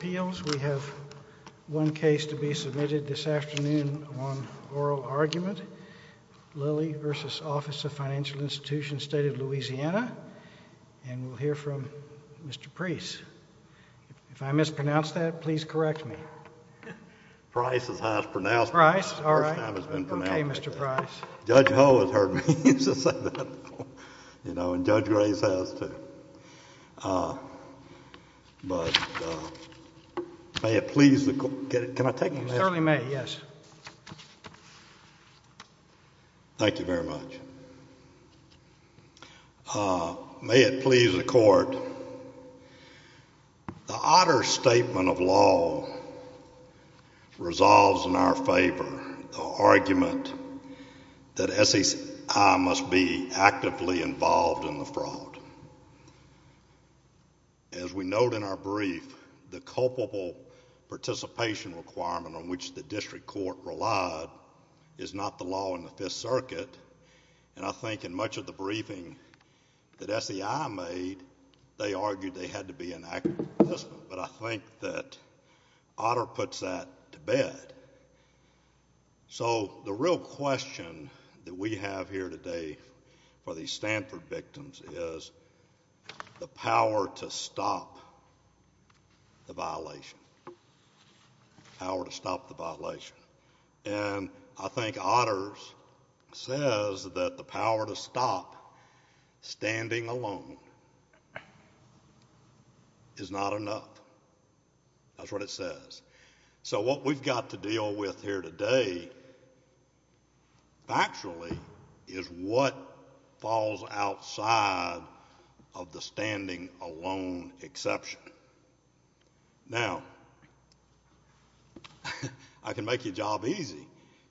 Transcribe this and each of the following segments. We have one case to be submitted this afternoon on oral argument, Lillie v. Office of Financial Institution, State of Louisiana, and we'll hear from Mr. Preece. If I mispronounced that, please correct me. Preece is highest pronounced. Preece, all right. First time it's been pronounced. Okay, Mr. Preece. Judge Ho has heard me say that before, you know, and Judge Grace has too, but may it please the court. Can I take a minute? You certainly may, yes. Thank you very much. May it please the court, the Otter Statement of Law resolves in our favor the argument that SEI must be actively involved in the fraud. As we note in our brief, the culpable participation requirement on which the district court relied is not the law in the Fifth Circuit, and I think in much of the briefing that SEI made, they argued they had to be in active participant, but I think that Otter puts that to bed. So, the real question that we have here today for these Stanford victims is the power to stop the violation, the power to stop the violation, and I think Otter says that the power to stop standing alone is not enough, that's what it says. So what we've got to deal with here today, factually, is what falls outside of the standing alone exception. Now, I can make your job easy.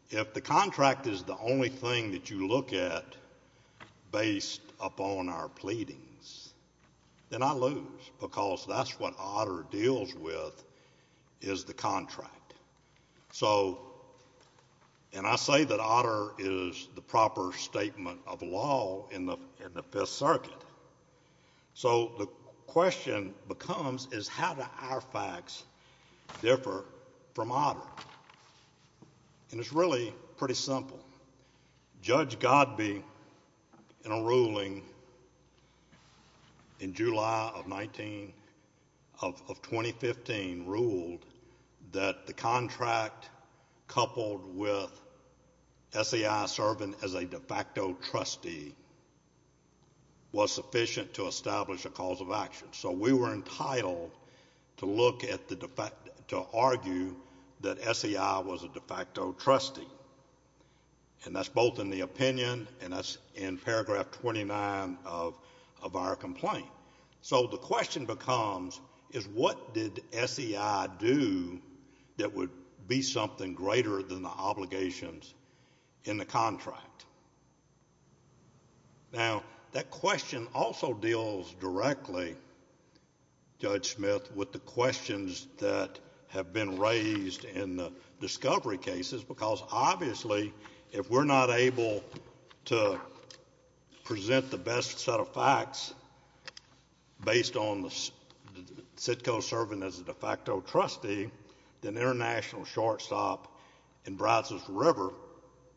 If the contract is the only thing that you look at based upon our pleadings, then I lose because that's what Otter deals with, is the contract. So, and I say that Otter is the proper statement of law in the Fifth Circuit, so the question becomes is how do our facts differ from Otter, and it's really pretty simple. Judge Godbee, in a ruling in July of 2015, ruled that the contract coupled with SEI serving as a de facto trustee was sufficient to establish a cause of action, so we were entitled to that, and that's both in the opinion and that's in paragraph 29 of our complaint. So the question becomes is what did SEI do that would be something greater than the obligations in the contract? Now, that question also deals directly, Judge Smith, with the questions that have been raised in the discovery cases, because obviously, if we're not able to present the best set of facts based on the SITCO serving as a de facto trustee, then international shortstop in Brazos River,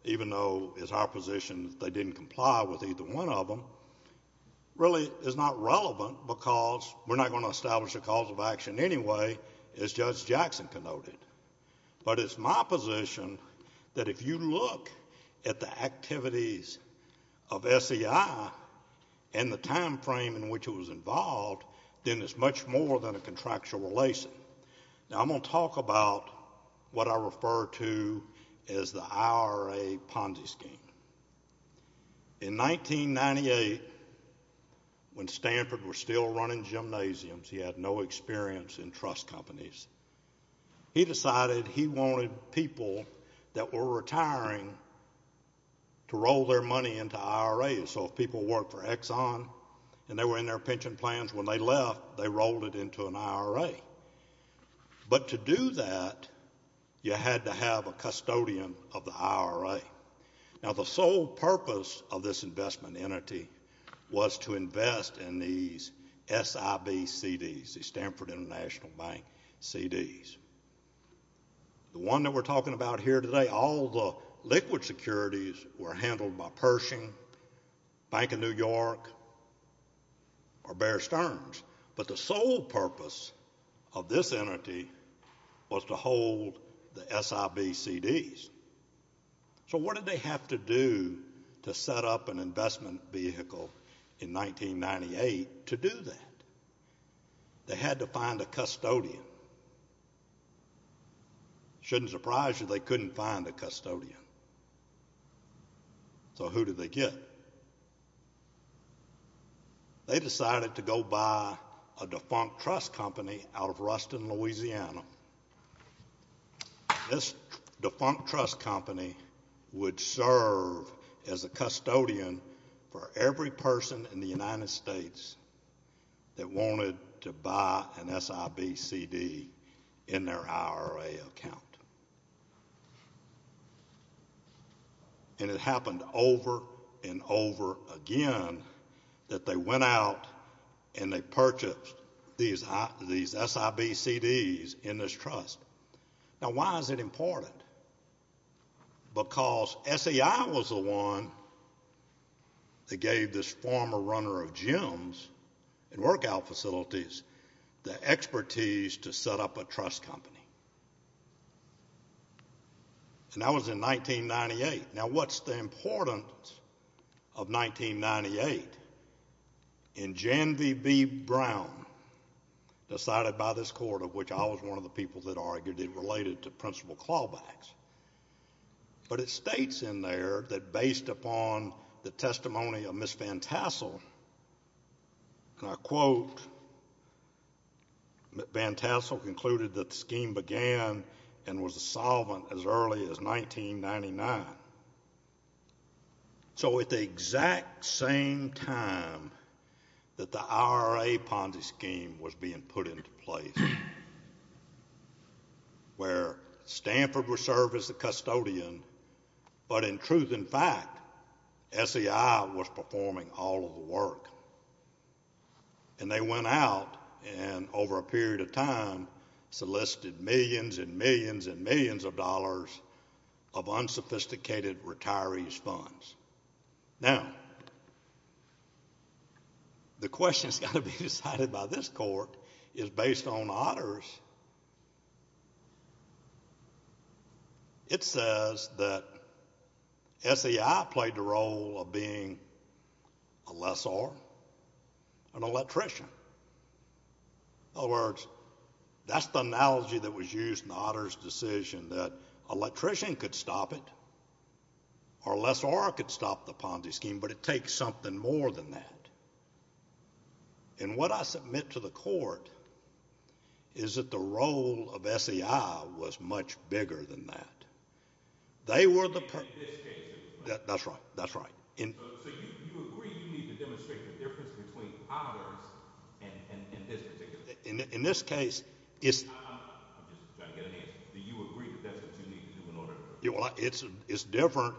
even though it's our position that they didn't comply with either one of them, really is not relevant because we're not going to establish a cause of action anyway as Judge Jackson connoted. But it's my position that if you look at the activities of SEI and the time frame in which it was involved, then it's much more than a contractual relation. Now, I'm going to talk about what I refer to as the IRA Ponzi scheme. In 1998, when Stanford was still running gymnasiums, he had no experience in trust companies. He decided he wanted people that were retiring to roll their money into IRAs. So if people worked for Exxon and they were in their pension plans, when they left, they rolled it into an IRA. But to do that, you had to have a custodian of the IRA. Now, the sole purpose of this investment entity was to invest in these SIBCDs, the Stanford International Bank CDs. The one that we're talking about here today, all the liquid securities were handled by Pershing, Bank of New York, or Bear Stearns. But the sole purpose of this entity was to hold the SIBCDs. So what did they have to do to set up an investment vehicle in 1998 to do that? They had to find a custodian. It shouldn't surprise you they couldn't find a custodian. So who did they get? They decided to go buy a defunct trust company out of Ruston, Louisiana. This defunct trust company would serve as a custodian for every person in the United States that wanted to buy an SIBCD in their IRA account. And it happened over and over again that they went out and they purchased these SIBCDs in this trust. Now, why is it important? Because SEI was the one that gave this former runner of gyms and workout facilities the expertise to set up a trust company. And that was in 1998. Now what's the importance of 1998? In Jan V. B. Brown, decided by this court, of which I was one of the people that argued it related to principal clawbacks, but it states in there that based upon the testimony of Ms. Van Tassel, and I quote, Van Tassel concluded that the scheme began and was a solvent as early as 1999. So at the exact same time that the IRA Ponzi scheme was being put into place, where Stanford would serve as the custodian, but in truth and fact, SEI was performing all of the work. And they went out and over a period of time solicited millions and millions and millions of dollars of unsophisticated retirees' funds. Now, the question that's got to be decided by this court is based on Otter's. It says that SEI played the role of being a lessor, an electrician. In other words, that's the analogy that was used in Otter's decision, that an electrician could stop it, or a lessor could stop the Ponzi scheme, but it takes something more than that. And what I submit to the court is that the role of SEI was much bigger than that. They were the- In this case. That's right. That's right. So you agree you need to demonstrate the difference between Otter's and this particular- In this case, it's- I'm just trying to get an answer. Do you agree that that's what you need to do in order to- It's different.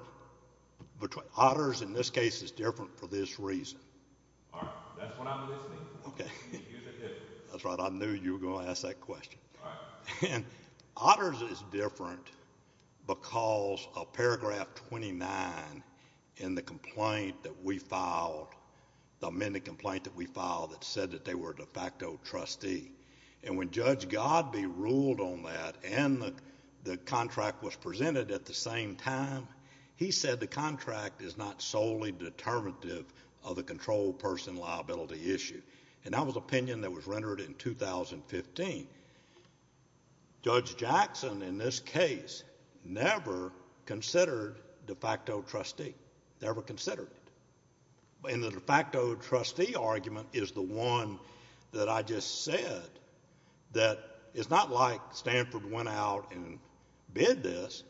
Otter's, in this case, is different for this reason. All right. That's what I'm listening for. Okay. Here's the difference. That's right. I knew you were going to ask that question. All right. Otter's is different because of paragraph 29 in the complaint that we filed, the amended complaint that we filed, that said that they were de facto trustee. And when Judge Godbee ruled on that, and the contract was presented at the same time, he said the contract is not solely determinative of the controlled person liability issue. And that was opinion that was rendered in 2015. Judge Jackson, in this case, never considered de facto trustee, never considered it. And the de facto trustee argument is the one that I just said, that it's not like Stanford went out and bid this.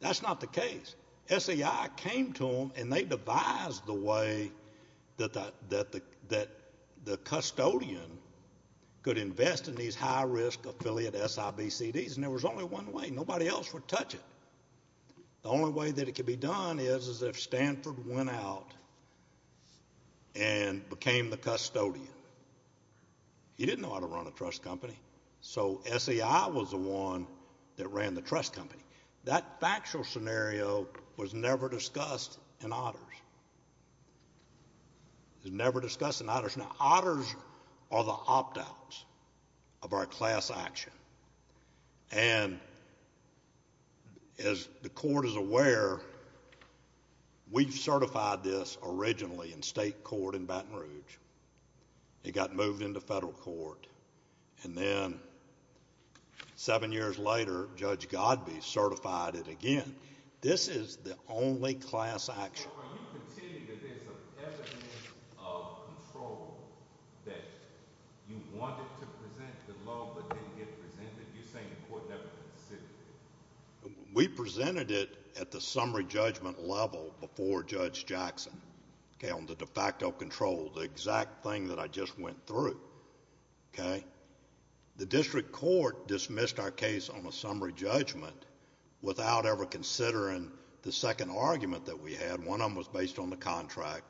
That's not the case. SEI came to them, and they devised the way that the custodian could invest in these high-risk affiliate SIBCDs, and there was only one way. Nobody else would touch it. The only way that it could be done is if Stanford went out and became the custodian. He didn't know how to run a trust company, so SEI was the one that ran the trust company. That factual scenario was never discussed in Otters. Never discussed in Otters. Now, Otters are the opt-outs of our class action, and as the court is aware, we certified this originally in state court in Baton Rouge. It got moved into federal court, and then seven years later, Judge Godbee certified it again. This is the only class action. So are you conceding that there's evidence of control, that you wanted to present the law, but didn't get presented? You're saying the court never considered it. We presented it at the summary judgment level before Judge Jackson, okay, on the de facto control, the exact thing that I just went through, okay? The district court dismissed our case on a summary judgment without ever considering the second argument that we had. One of them was based on the contract,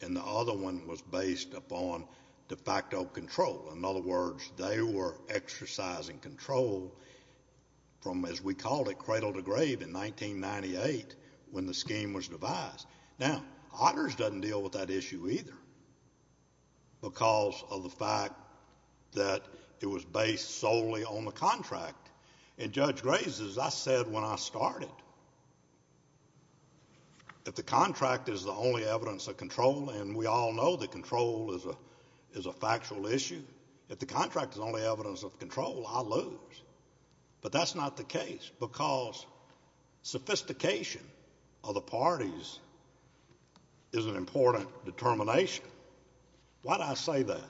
and the other one was based upon de facto control. In other words, they were exercising control from, as we call it, cradle to grave in 1998 when the scheme was devised. Now, Otters doesn't deal with that issue either because of the fact that it was based solely on the contract, and Judge Graves, as I said when I started, if the contract is the only evidence of control, and we all know that control is a factual issue, if the contract is the only evidence of control, I lose. But that's not the case because sophistication of the parties is an important determination. Why do I say that?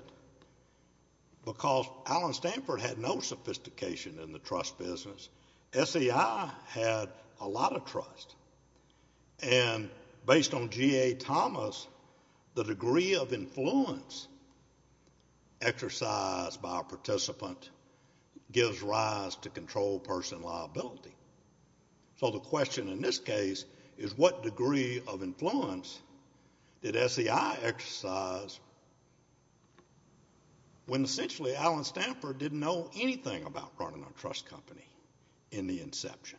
Because Allen Stanford had no sophistication in the trust business. SEI had a lot of trust, and based on G.A. Thomas, the degree of influence exercised by a participant gives rise to control person liability. So the question in this case is what degree of influence did SEI exercise when essentially Allen Stanford didn't know anything about running a trust company in the inception?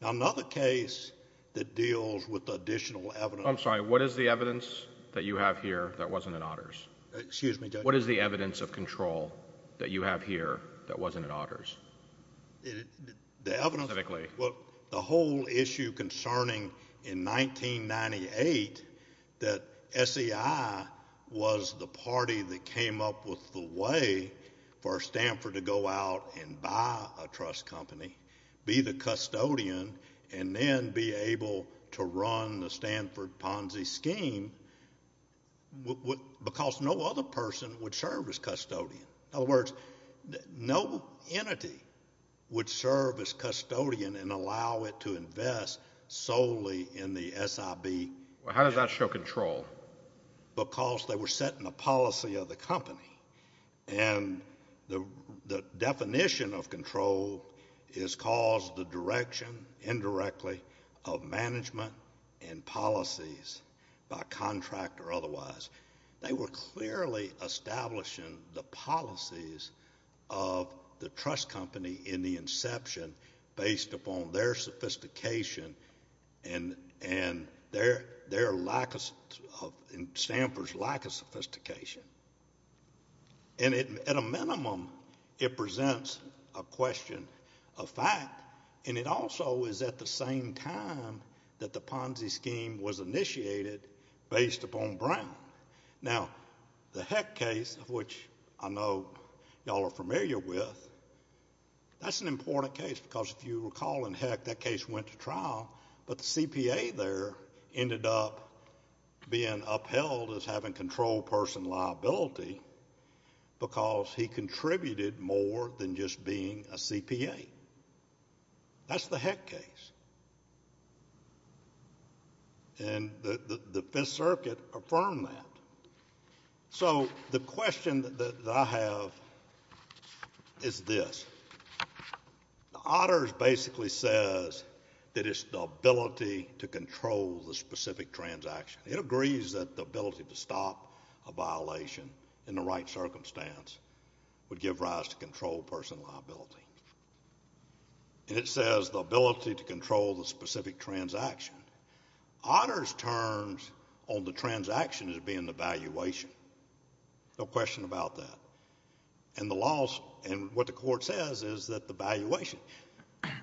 Now, another case that deals with additional evidence... I'm sorry. What is the evidence that you have here that wasn't in Otters? Excuse me, Judge. What is the evidence of control that you have here that wasn't in Otters? The evidence... Specifically. Well, the whole issue concerning in 1998 that SEI was the party that came up with the way for Stanford to go out and buy a trust company, be the custodian, and then be able to run the Stanford Ponzi scheme because no other person would serve as custodian. In other words, no entity would serve as custodian and allow it to invest solely in the SIB... Well, how does that show control? Because they were set in the policy of the company, and the definition of control is caused the direction, indirectly, of management and policies by contract or otherwise. They were clearly establishing the policies of the trust company in the inception based upon their sophistication and their lack of... Stanford's lack of sophistication. At a minimum, it presents a question of fact, and it also is at the same time that the Ponzi scheme was initiated based upon Brown. Now, the Heck case, which I know you all are familiar with, that's an important case because if you recall in Heck, that case went to trial, but the CPA there ended up being upheld as having control person liability because he contributed more than just being a CPA. That's the Heck case, and the Fifth Circuit affirmed that. So the question that I have is this. The Otters basically says that it's the ability to control the specific transaction. It agrees that the ability to stop a violation in the right circumstance would give rise to control person liability, and it says the ability to control the specific transaction. Otters' terms on the transaction is being the valuation, no question about that, and the laws... and what the court says is that the valuation...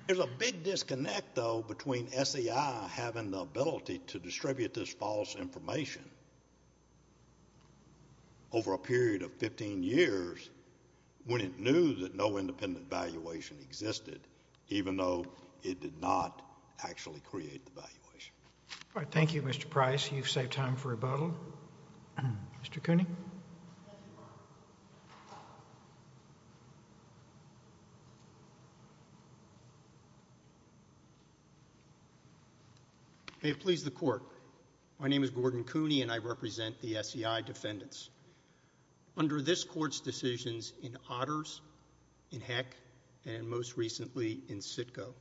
There's a big disconnect, though, between SEI having the ability to distribute this false information over a period of 15 years when it knew that no independent valuation existed, even though it did not actually create the valuation. Thank you, Mr. Price. You've saved time for rebuttal. Mr. Cooney? May it please the Court, my name is Gordon Cooney, and I represent the SEI defendants. Under this Court's decisions in Otters, in Heck, and most recently in Sitko,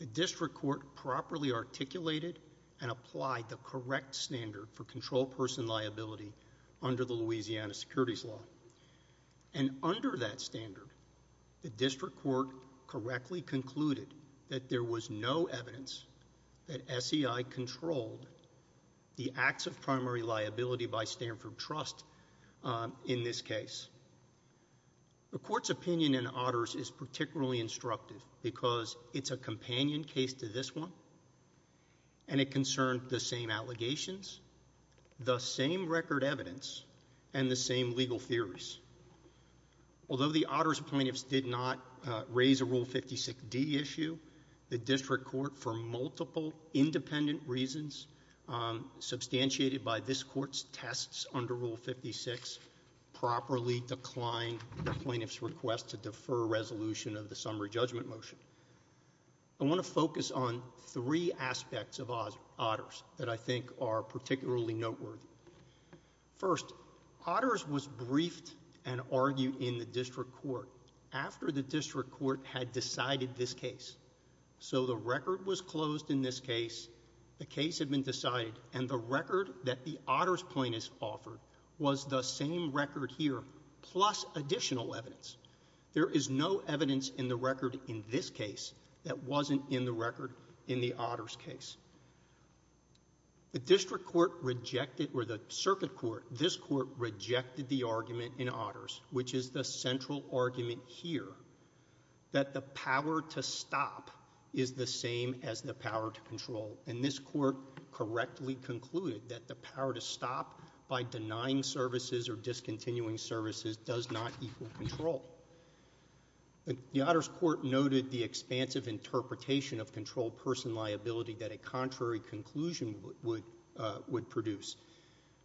the District Court properly articulated and applied the correct standard for control person liability under the Louisiana Securities Law, and under that standard, the District Court correctly concluded that there was no evidence that SEI controlled the acts of primary liability by Stanford Trust in this case. The Court's opinion in Otters is particularly instructive because it's a companion case to this one, and it concerned the same allegations, the same record evidence, and the same legal theories. Although the Otters plaintiffs did not raise a Rule 56D issue, the District Court, for multiple independent reasons, substantiated by this Court's tests under Rule 56, properly declined the plaintiff's request to defer resolution of the summary judgment motion. I want to focus on three aspects of Otters that I think are particularly noteworthy. First, Otters was briefed and argued in the District Court after the District Court had decided this case. So the record was closed in this case, the case had been decided, and the record that the Otters plaintiffs offered was the same record here, plus additional evidence. There is no evidence in the record in this case that wasn't in the record in the Otters case. The District Court rejected, or the Circuit Court, this Court rejected the argument in Otters, which is the central argument here, that the power to stop is the same as the power to control. And this Court correctly concluded that the power to stop by denying services or discontinuing services does not equal control. The Otters Court noted the expansive interpretation of controlled person liability that a contrary conclusion would produce.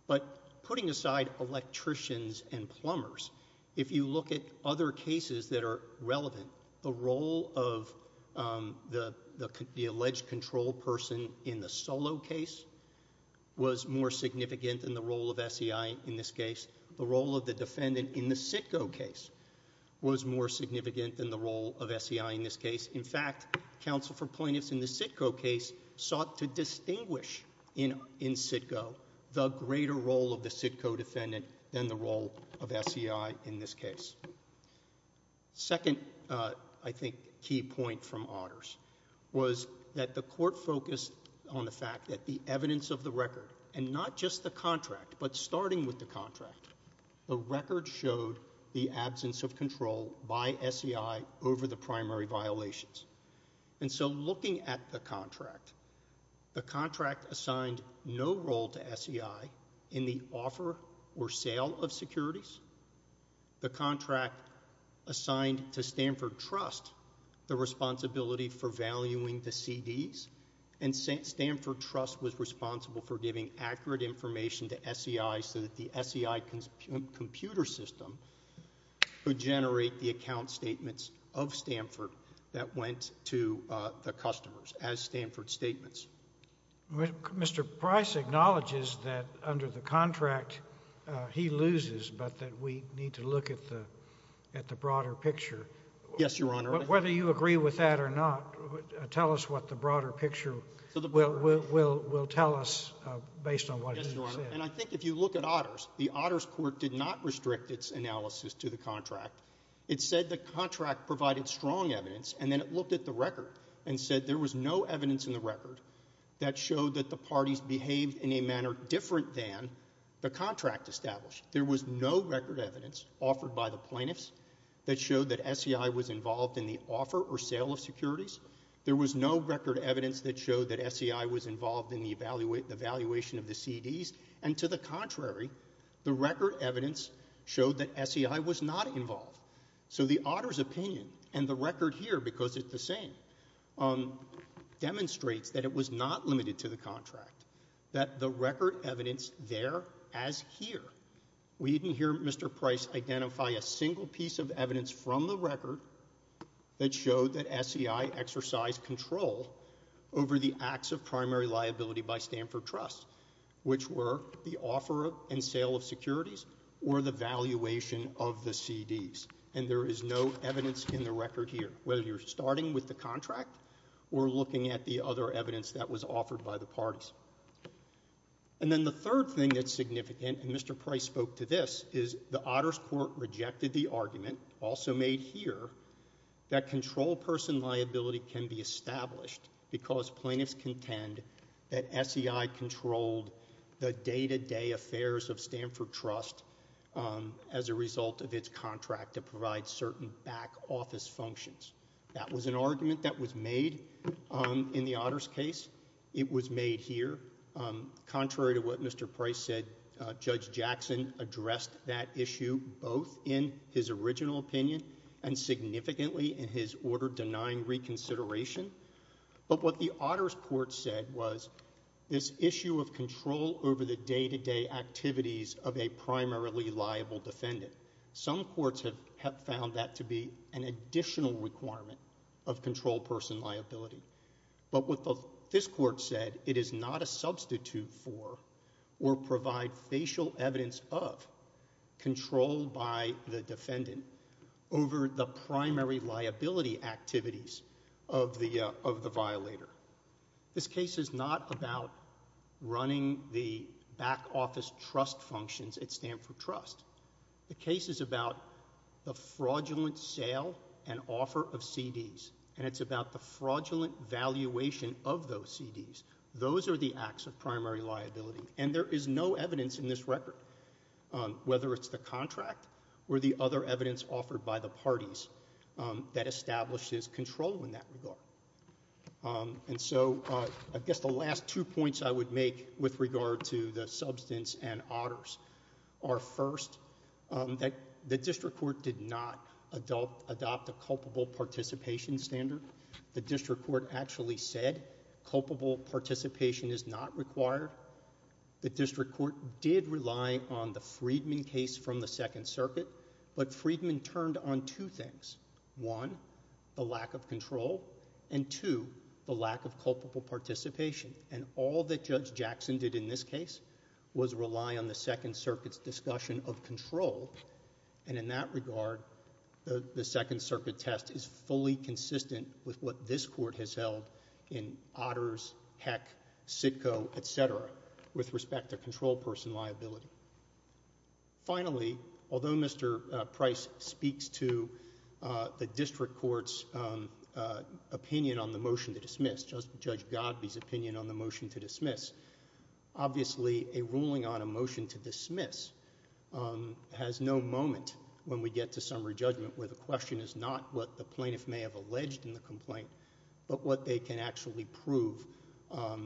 But putting aside electricians and plumbers, if you look at other cases that are relevant, the role of the alleged controlled person in the Solo case was more significant than the role of SEI in this case. The role of the defendant in the Sitko case was more significant than the role of SEI in this case. In fact, counsel for plaintiffs in the Sitko case sought to distinguish in Sitko the greater role of the Sitko defendant than the role of SEI in this case. Second, I think, key point from Otters was that the Court focused on the fact that the contract, but starting with the contract, the record showed the absence of control by SEI over the primary violations. And so looking at the contract, the contract assigned no role to SEI in the offer or sale of securities. The contract assigned to Stanford Trust the responsibility for valuing the CDs, and Stanford Trust was responsible for giving accurate information to SEI so that the SEI computer system could generate the account statements of Stanford that went to the customers as Stanford statements. Mr. Price acknowledges that under the contract he loses, but that we need to look at the broader picture. Yes, Your Honor. But whether you agree with that or not, tell us what the broader picture will tell us based on what you said. Yes, Your Honor. And I think if you look at Otters, the Otters Court did not restrict its analysis to the contract. It said the contract provided strong evidence, and then it looked at the record and said there was no evidence in the record that showed that the parties behaved in a manner different than the contract established. There was no record evidence offered by the plaintiffs that showed that SEI was involved in the offer or sale of securities. There was no record evidence that showed that SEI was involved in the valuation of the CDs, and to the contrary, the record evidence showed that SEI was not involved. So the Otters opinion and the record here, because it's the same, demonstrates that it was not limited to the contract, that the record evidence there as here, we didn't hear that showed that SEI exercised control over the acts of primary liability by Stanford Trust, which were the offer and sale of securities or the valuation of the CDs. And there is no evidence in the record here, whether you're starting with the contract or looking at the other evidence that was offered by the parties. And then the third thing that's significant, and Mr. Price spoke to this, is the Otters Court rejected the argument, also made here, that control person liability can be established because plaintiffs contend that SEI controlled the day-to-day affairs of Stanford Trust as a result of its contract to provide certain back office functions. That was an argument that was made in the Otters case. It was made here. Contrary to what Mr. Price said, Judge Jackson addressed that issue both in his original opinion and significantly in his order denying reconsideration. But what the Otters Court said was this issue of control over the day-to-day activities of a primarily liable defendant. Some courts have found that to be an additional requirement of control person liability. But what this court said, it is not a substitute for or provide facial evidence of control by the defendant over the primary liability activities of the violator. This case is not about running the back office trust functions at Stanford Trust. The case is about the fraudulent sale and offer of CDs, and it's about the fraudulent valuation of those CDs. Those are the acts of primary liability. And there is no evidence in this record, whether it's the contract or the other evidence offered by the parties, that establishes control in that regard. And so I guess the last two points I would make with regard to the substance and otters are, first, that the district court did not adopt a culpable participation standard. The district court actually said culpable participation is not required. The district court did rely on the Freedman case from the Second Circuit, but Freedman turned on two things, one, the lack of control, and two, the lack of culpable participation. And all that Judge Jackson did in this case was rely on the Second Circuit's discussion of control. And in that regard, the Second Circuit test is fully consistent with what this court has held in otters, heck, CITCO, et cetera, with respect to control person liability. Finally, although Mr. Price speaks to the district court's opinion on the motion to dismiss, obviously, a ruling on a motion to dismiss has no moment when we get to summary judgment where the question is not what the plaintiff may have alleged in the complaint, but what they can actually prove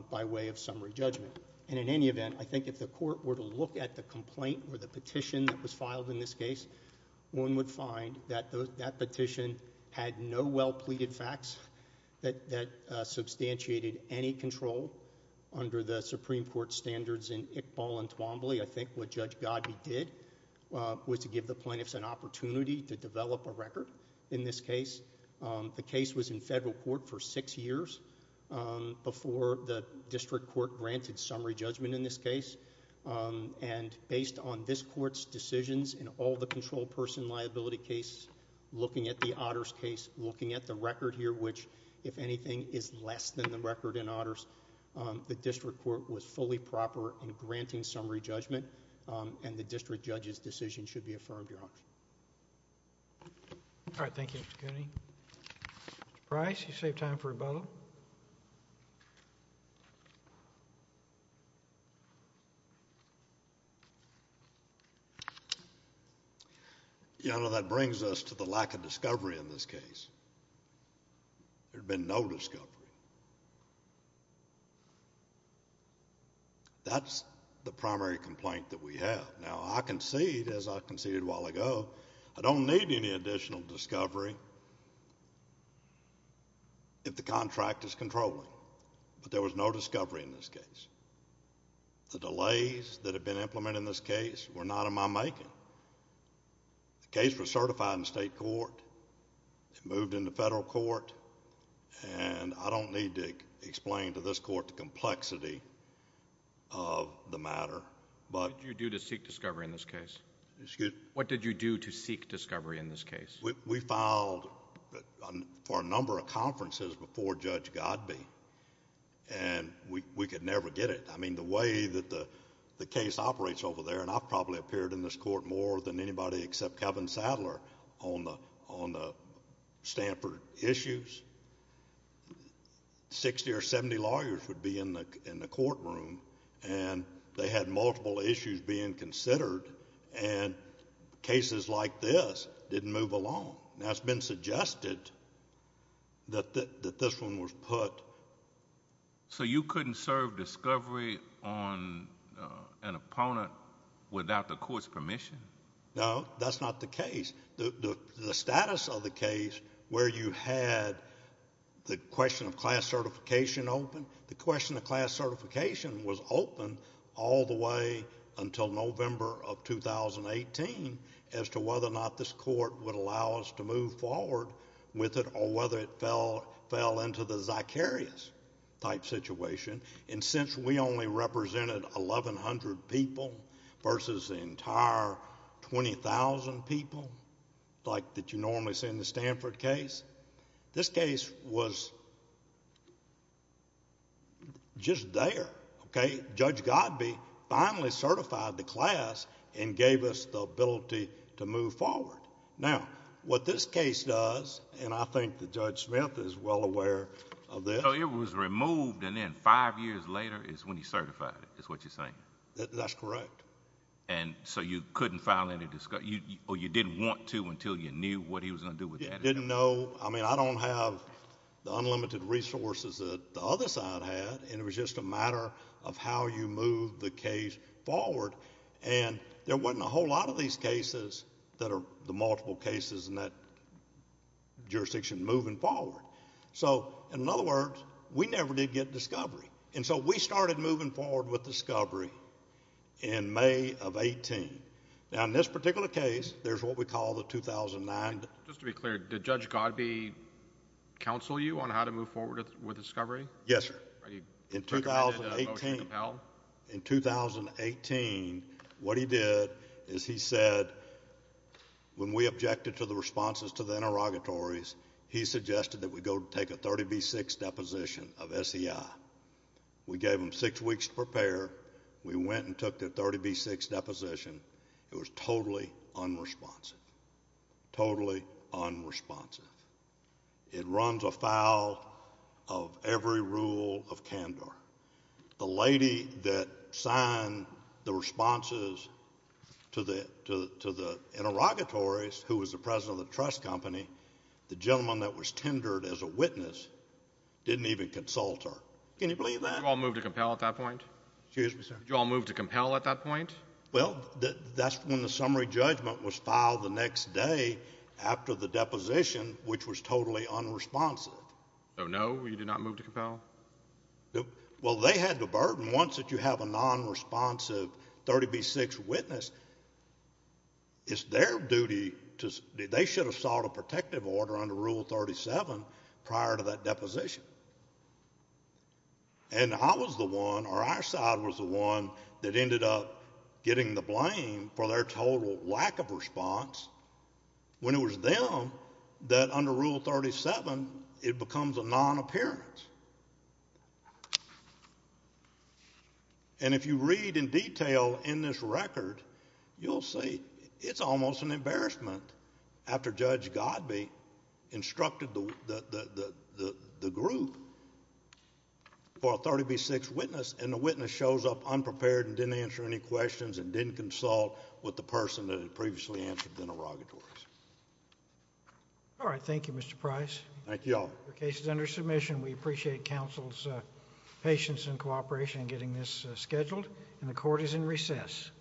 by way of summary judgment. And in any event, I think if the court were to look at the complaint or the petition that was filed in this case, one would find that that petition had no well-pleaded facts that substantiated any control under the Supreme Court standards in Iqbal and Twombly. I think what Judge Godby did was to give the plaintiffs an opportunity to develop a record in this case. The case was in federal court for six years before the district court granted summary judgment in this case. And based on this court's decisions in all the control person liability cases, looking at the Otters case, looking at the record here, which, if anything, is less than the record in Otters, the district court was fully proper in granting summary judgment, and the district judge's decision should be affirmed, Your Honor. All right. Thank you, Mr. Cooney. Mr. Price, you saved time for rebuttal. Your Honor, that brings us to the lack of discovery in this case. There's been no discovery. That's the primary complaint that we have. Now, I concede, as I conceded a while ago, I don't need any additional discovery if the contract is controlling. But there was no discovery in this case. The delays that have been implemented in this case were not in my making. The case was certified in state court. It moved into federal court, and I don't need to explain to this court the complexity of the matter. But... What did you do to seek discovery in this case? Excuse me? What did you do to seek discovery in this case? We filed for a number of conferences before Judge Godbee, and we could never get it. I mean, the way that the case operates over there, and I've probably appeared in this court more than anybody except Kevin Sadler on the Stanford issues, sixty or seventy lawyers would be in the courtroom, and they had multiple issues being considered, and cases like this didn't move along. Now, it's been suggested that this one was put... So you couldn't serve discovery on an opponent without the court's permission? No, that's not the case. The status of the case where you had the question of class certification open, the question of class certification was open all the way until November of 2018 as to whether or not this court would allow us to move forward with it, or whether it fell into the zicarious type situation, and since we only represented eleven hundred people versus the entire twenty thousand people like that you normally see in the Stanford case, this was just there, okay? Judge Godbee finally certified the class and gave us the ability to move forward. Now, what this case does, and I think that Judge Smith is well aware of this... So it was removed and then five years later is when he certified it, is what you're saying? That's correct. So you couldn't file any... or you didn't want to until you knew what he was going to do with that? He didn't know. So, I mean, I don't have the unlimited resources that the other side had, and it was just a matter of how you move the case forward, and there wasn't a whole lot of these cases that are the multiple cases in that jurisdiction moving forward. So in other words, we never did get discovery, and so we started moving forward with discovery in May of 18. Now, in this particular case, there's what we call the 2009... Just to be clear, did Judge Godbee counsel you on how to move forward with discovery? Yes, sir. In 2018... Did he recommend a motion to compel? In 2018, what he did is he said, when we objected to the responses to the interrogatories, he suggested that we go take a 30B6 deposition of SEI. We gave them six weeks to prepare. We went and took the 30B6 deposition. It was totally unresponsive, totally unresponsive. It runs afoul of every rule of CANDOR. The lady that signed the responses to the interrogatories, who was the president of the trust company, the gentleman that was tendered as a witness, didn't even consult her. Can you believe that? Did you all move to compel at that point? Excuse me, sir? Did you all move to compel at that point? Well, that's when the summary judgment was filed the next day after the deposition, which was totally unresponsive. So, no, you did not move to compel? Well, they had the burden, once that you have a nonresponsive 30B6 witness, it's their duty to... they should have sought a protective order under Rule 37 prior to that deposition. And I was the one, or our side was the one, that ended up getting the blame for their total lack of response when it was them that, under Rule 37, it becomes a non-appearance. And if you read in detail in this record, you'll see it's almost an embarrassment after Judge Godbee instructed the group for a 30B6 witness, and the witness shows up unprepared and didn't answer any questions and didn't consult with the person that had previously answered the interrogatories. All right. Thank you, Mr. Price. Thank you all. Your case is under submission. We appreciate counsel's patience and cooperation in getting this scheduled, and the Court is in recess.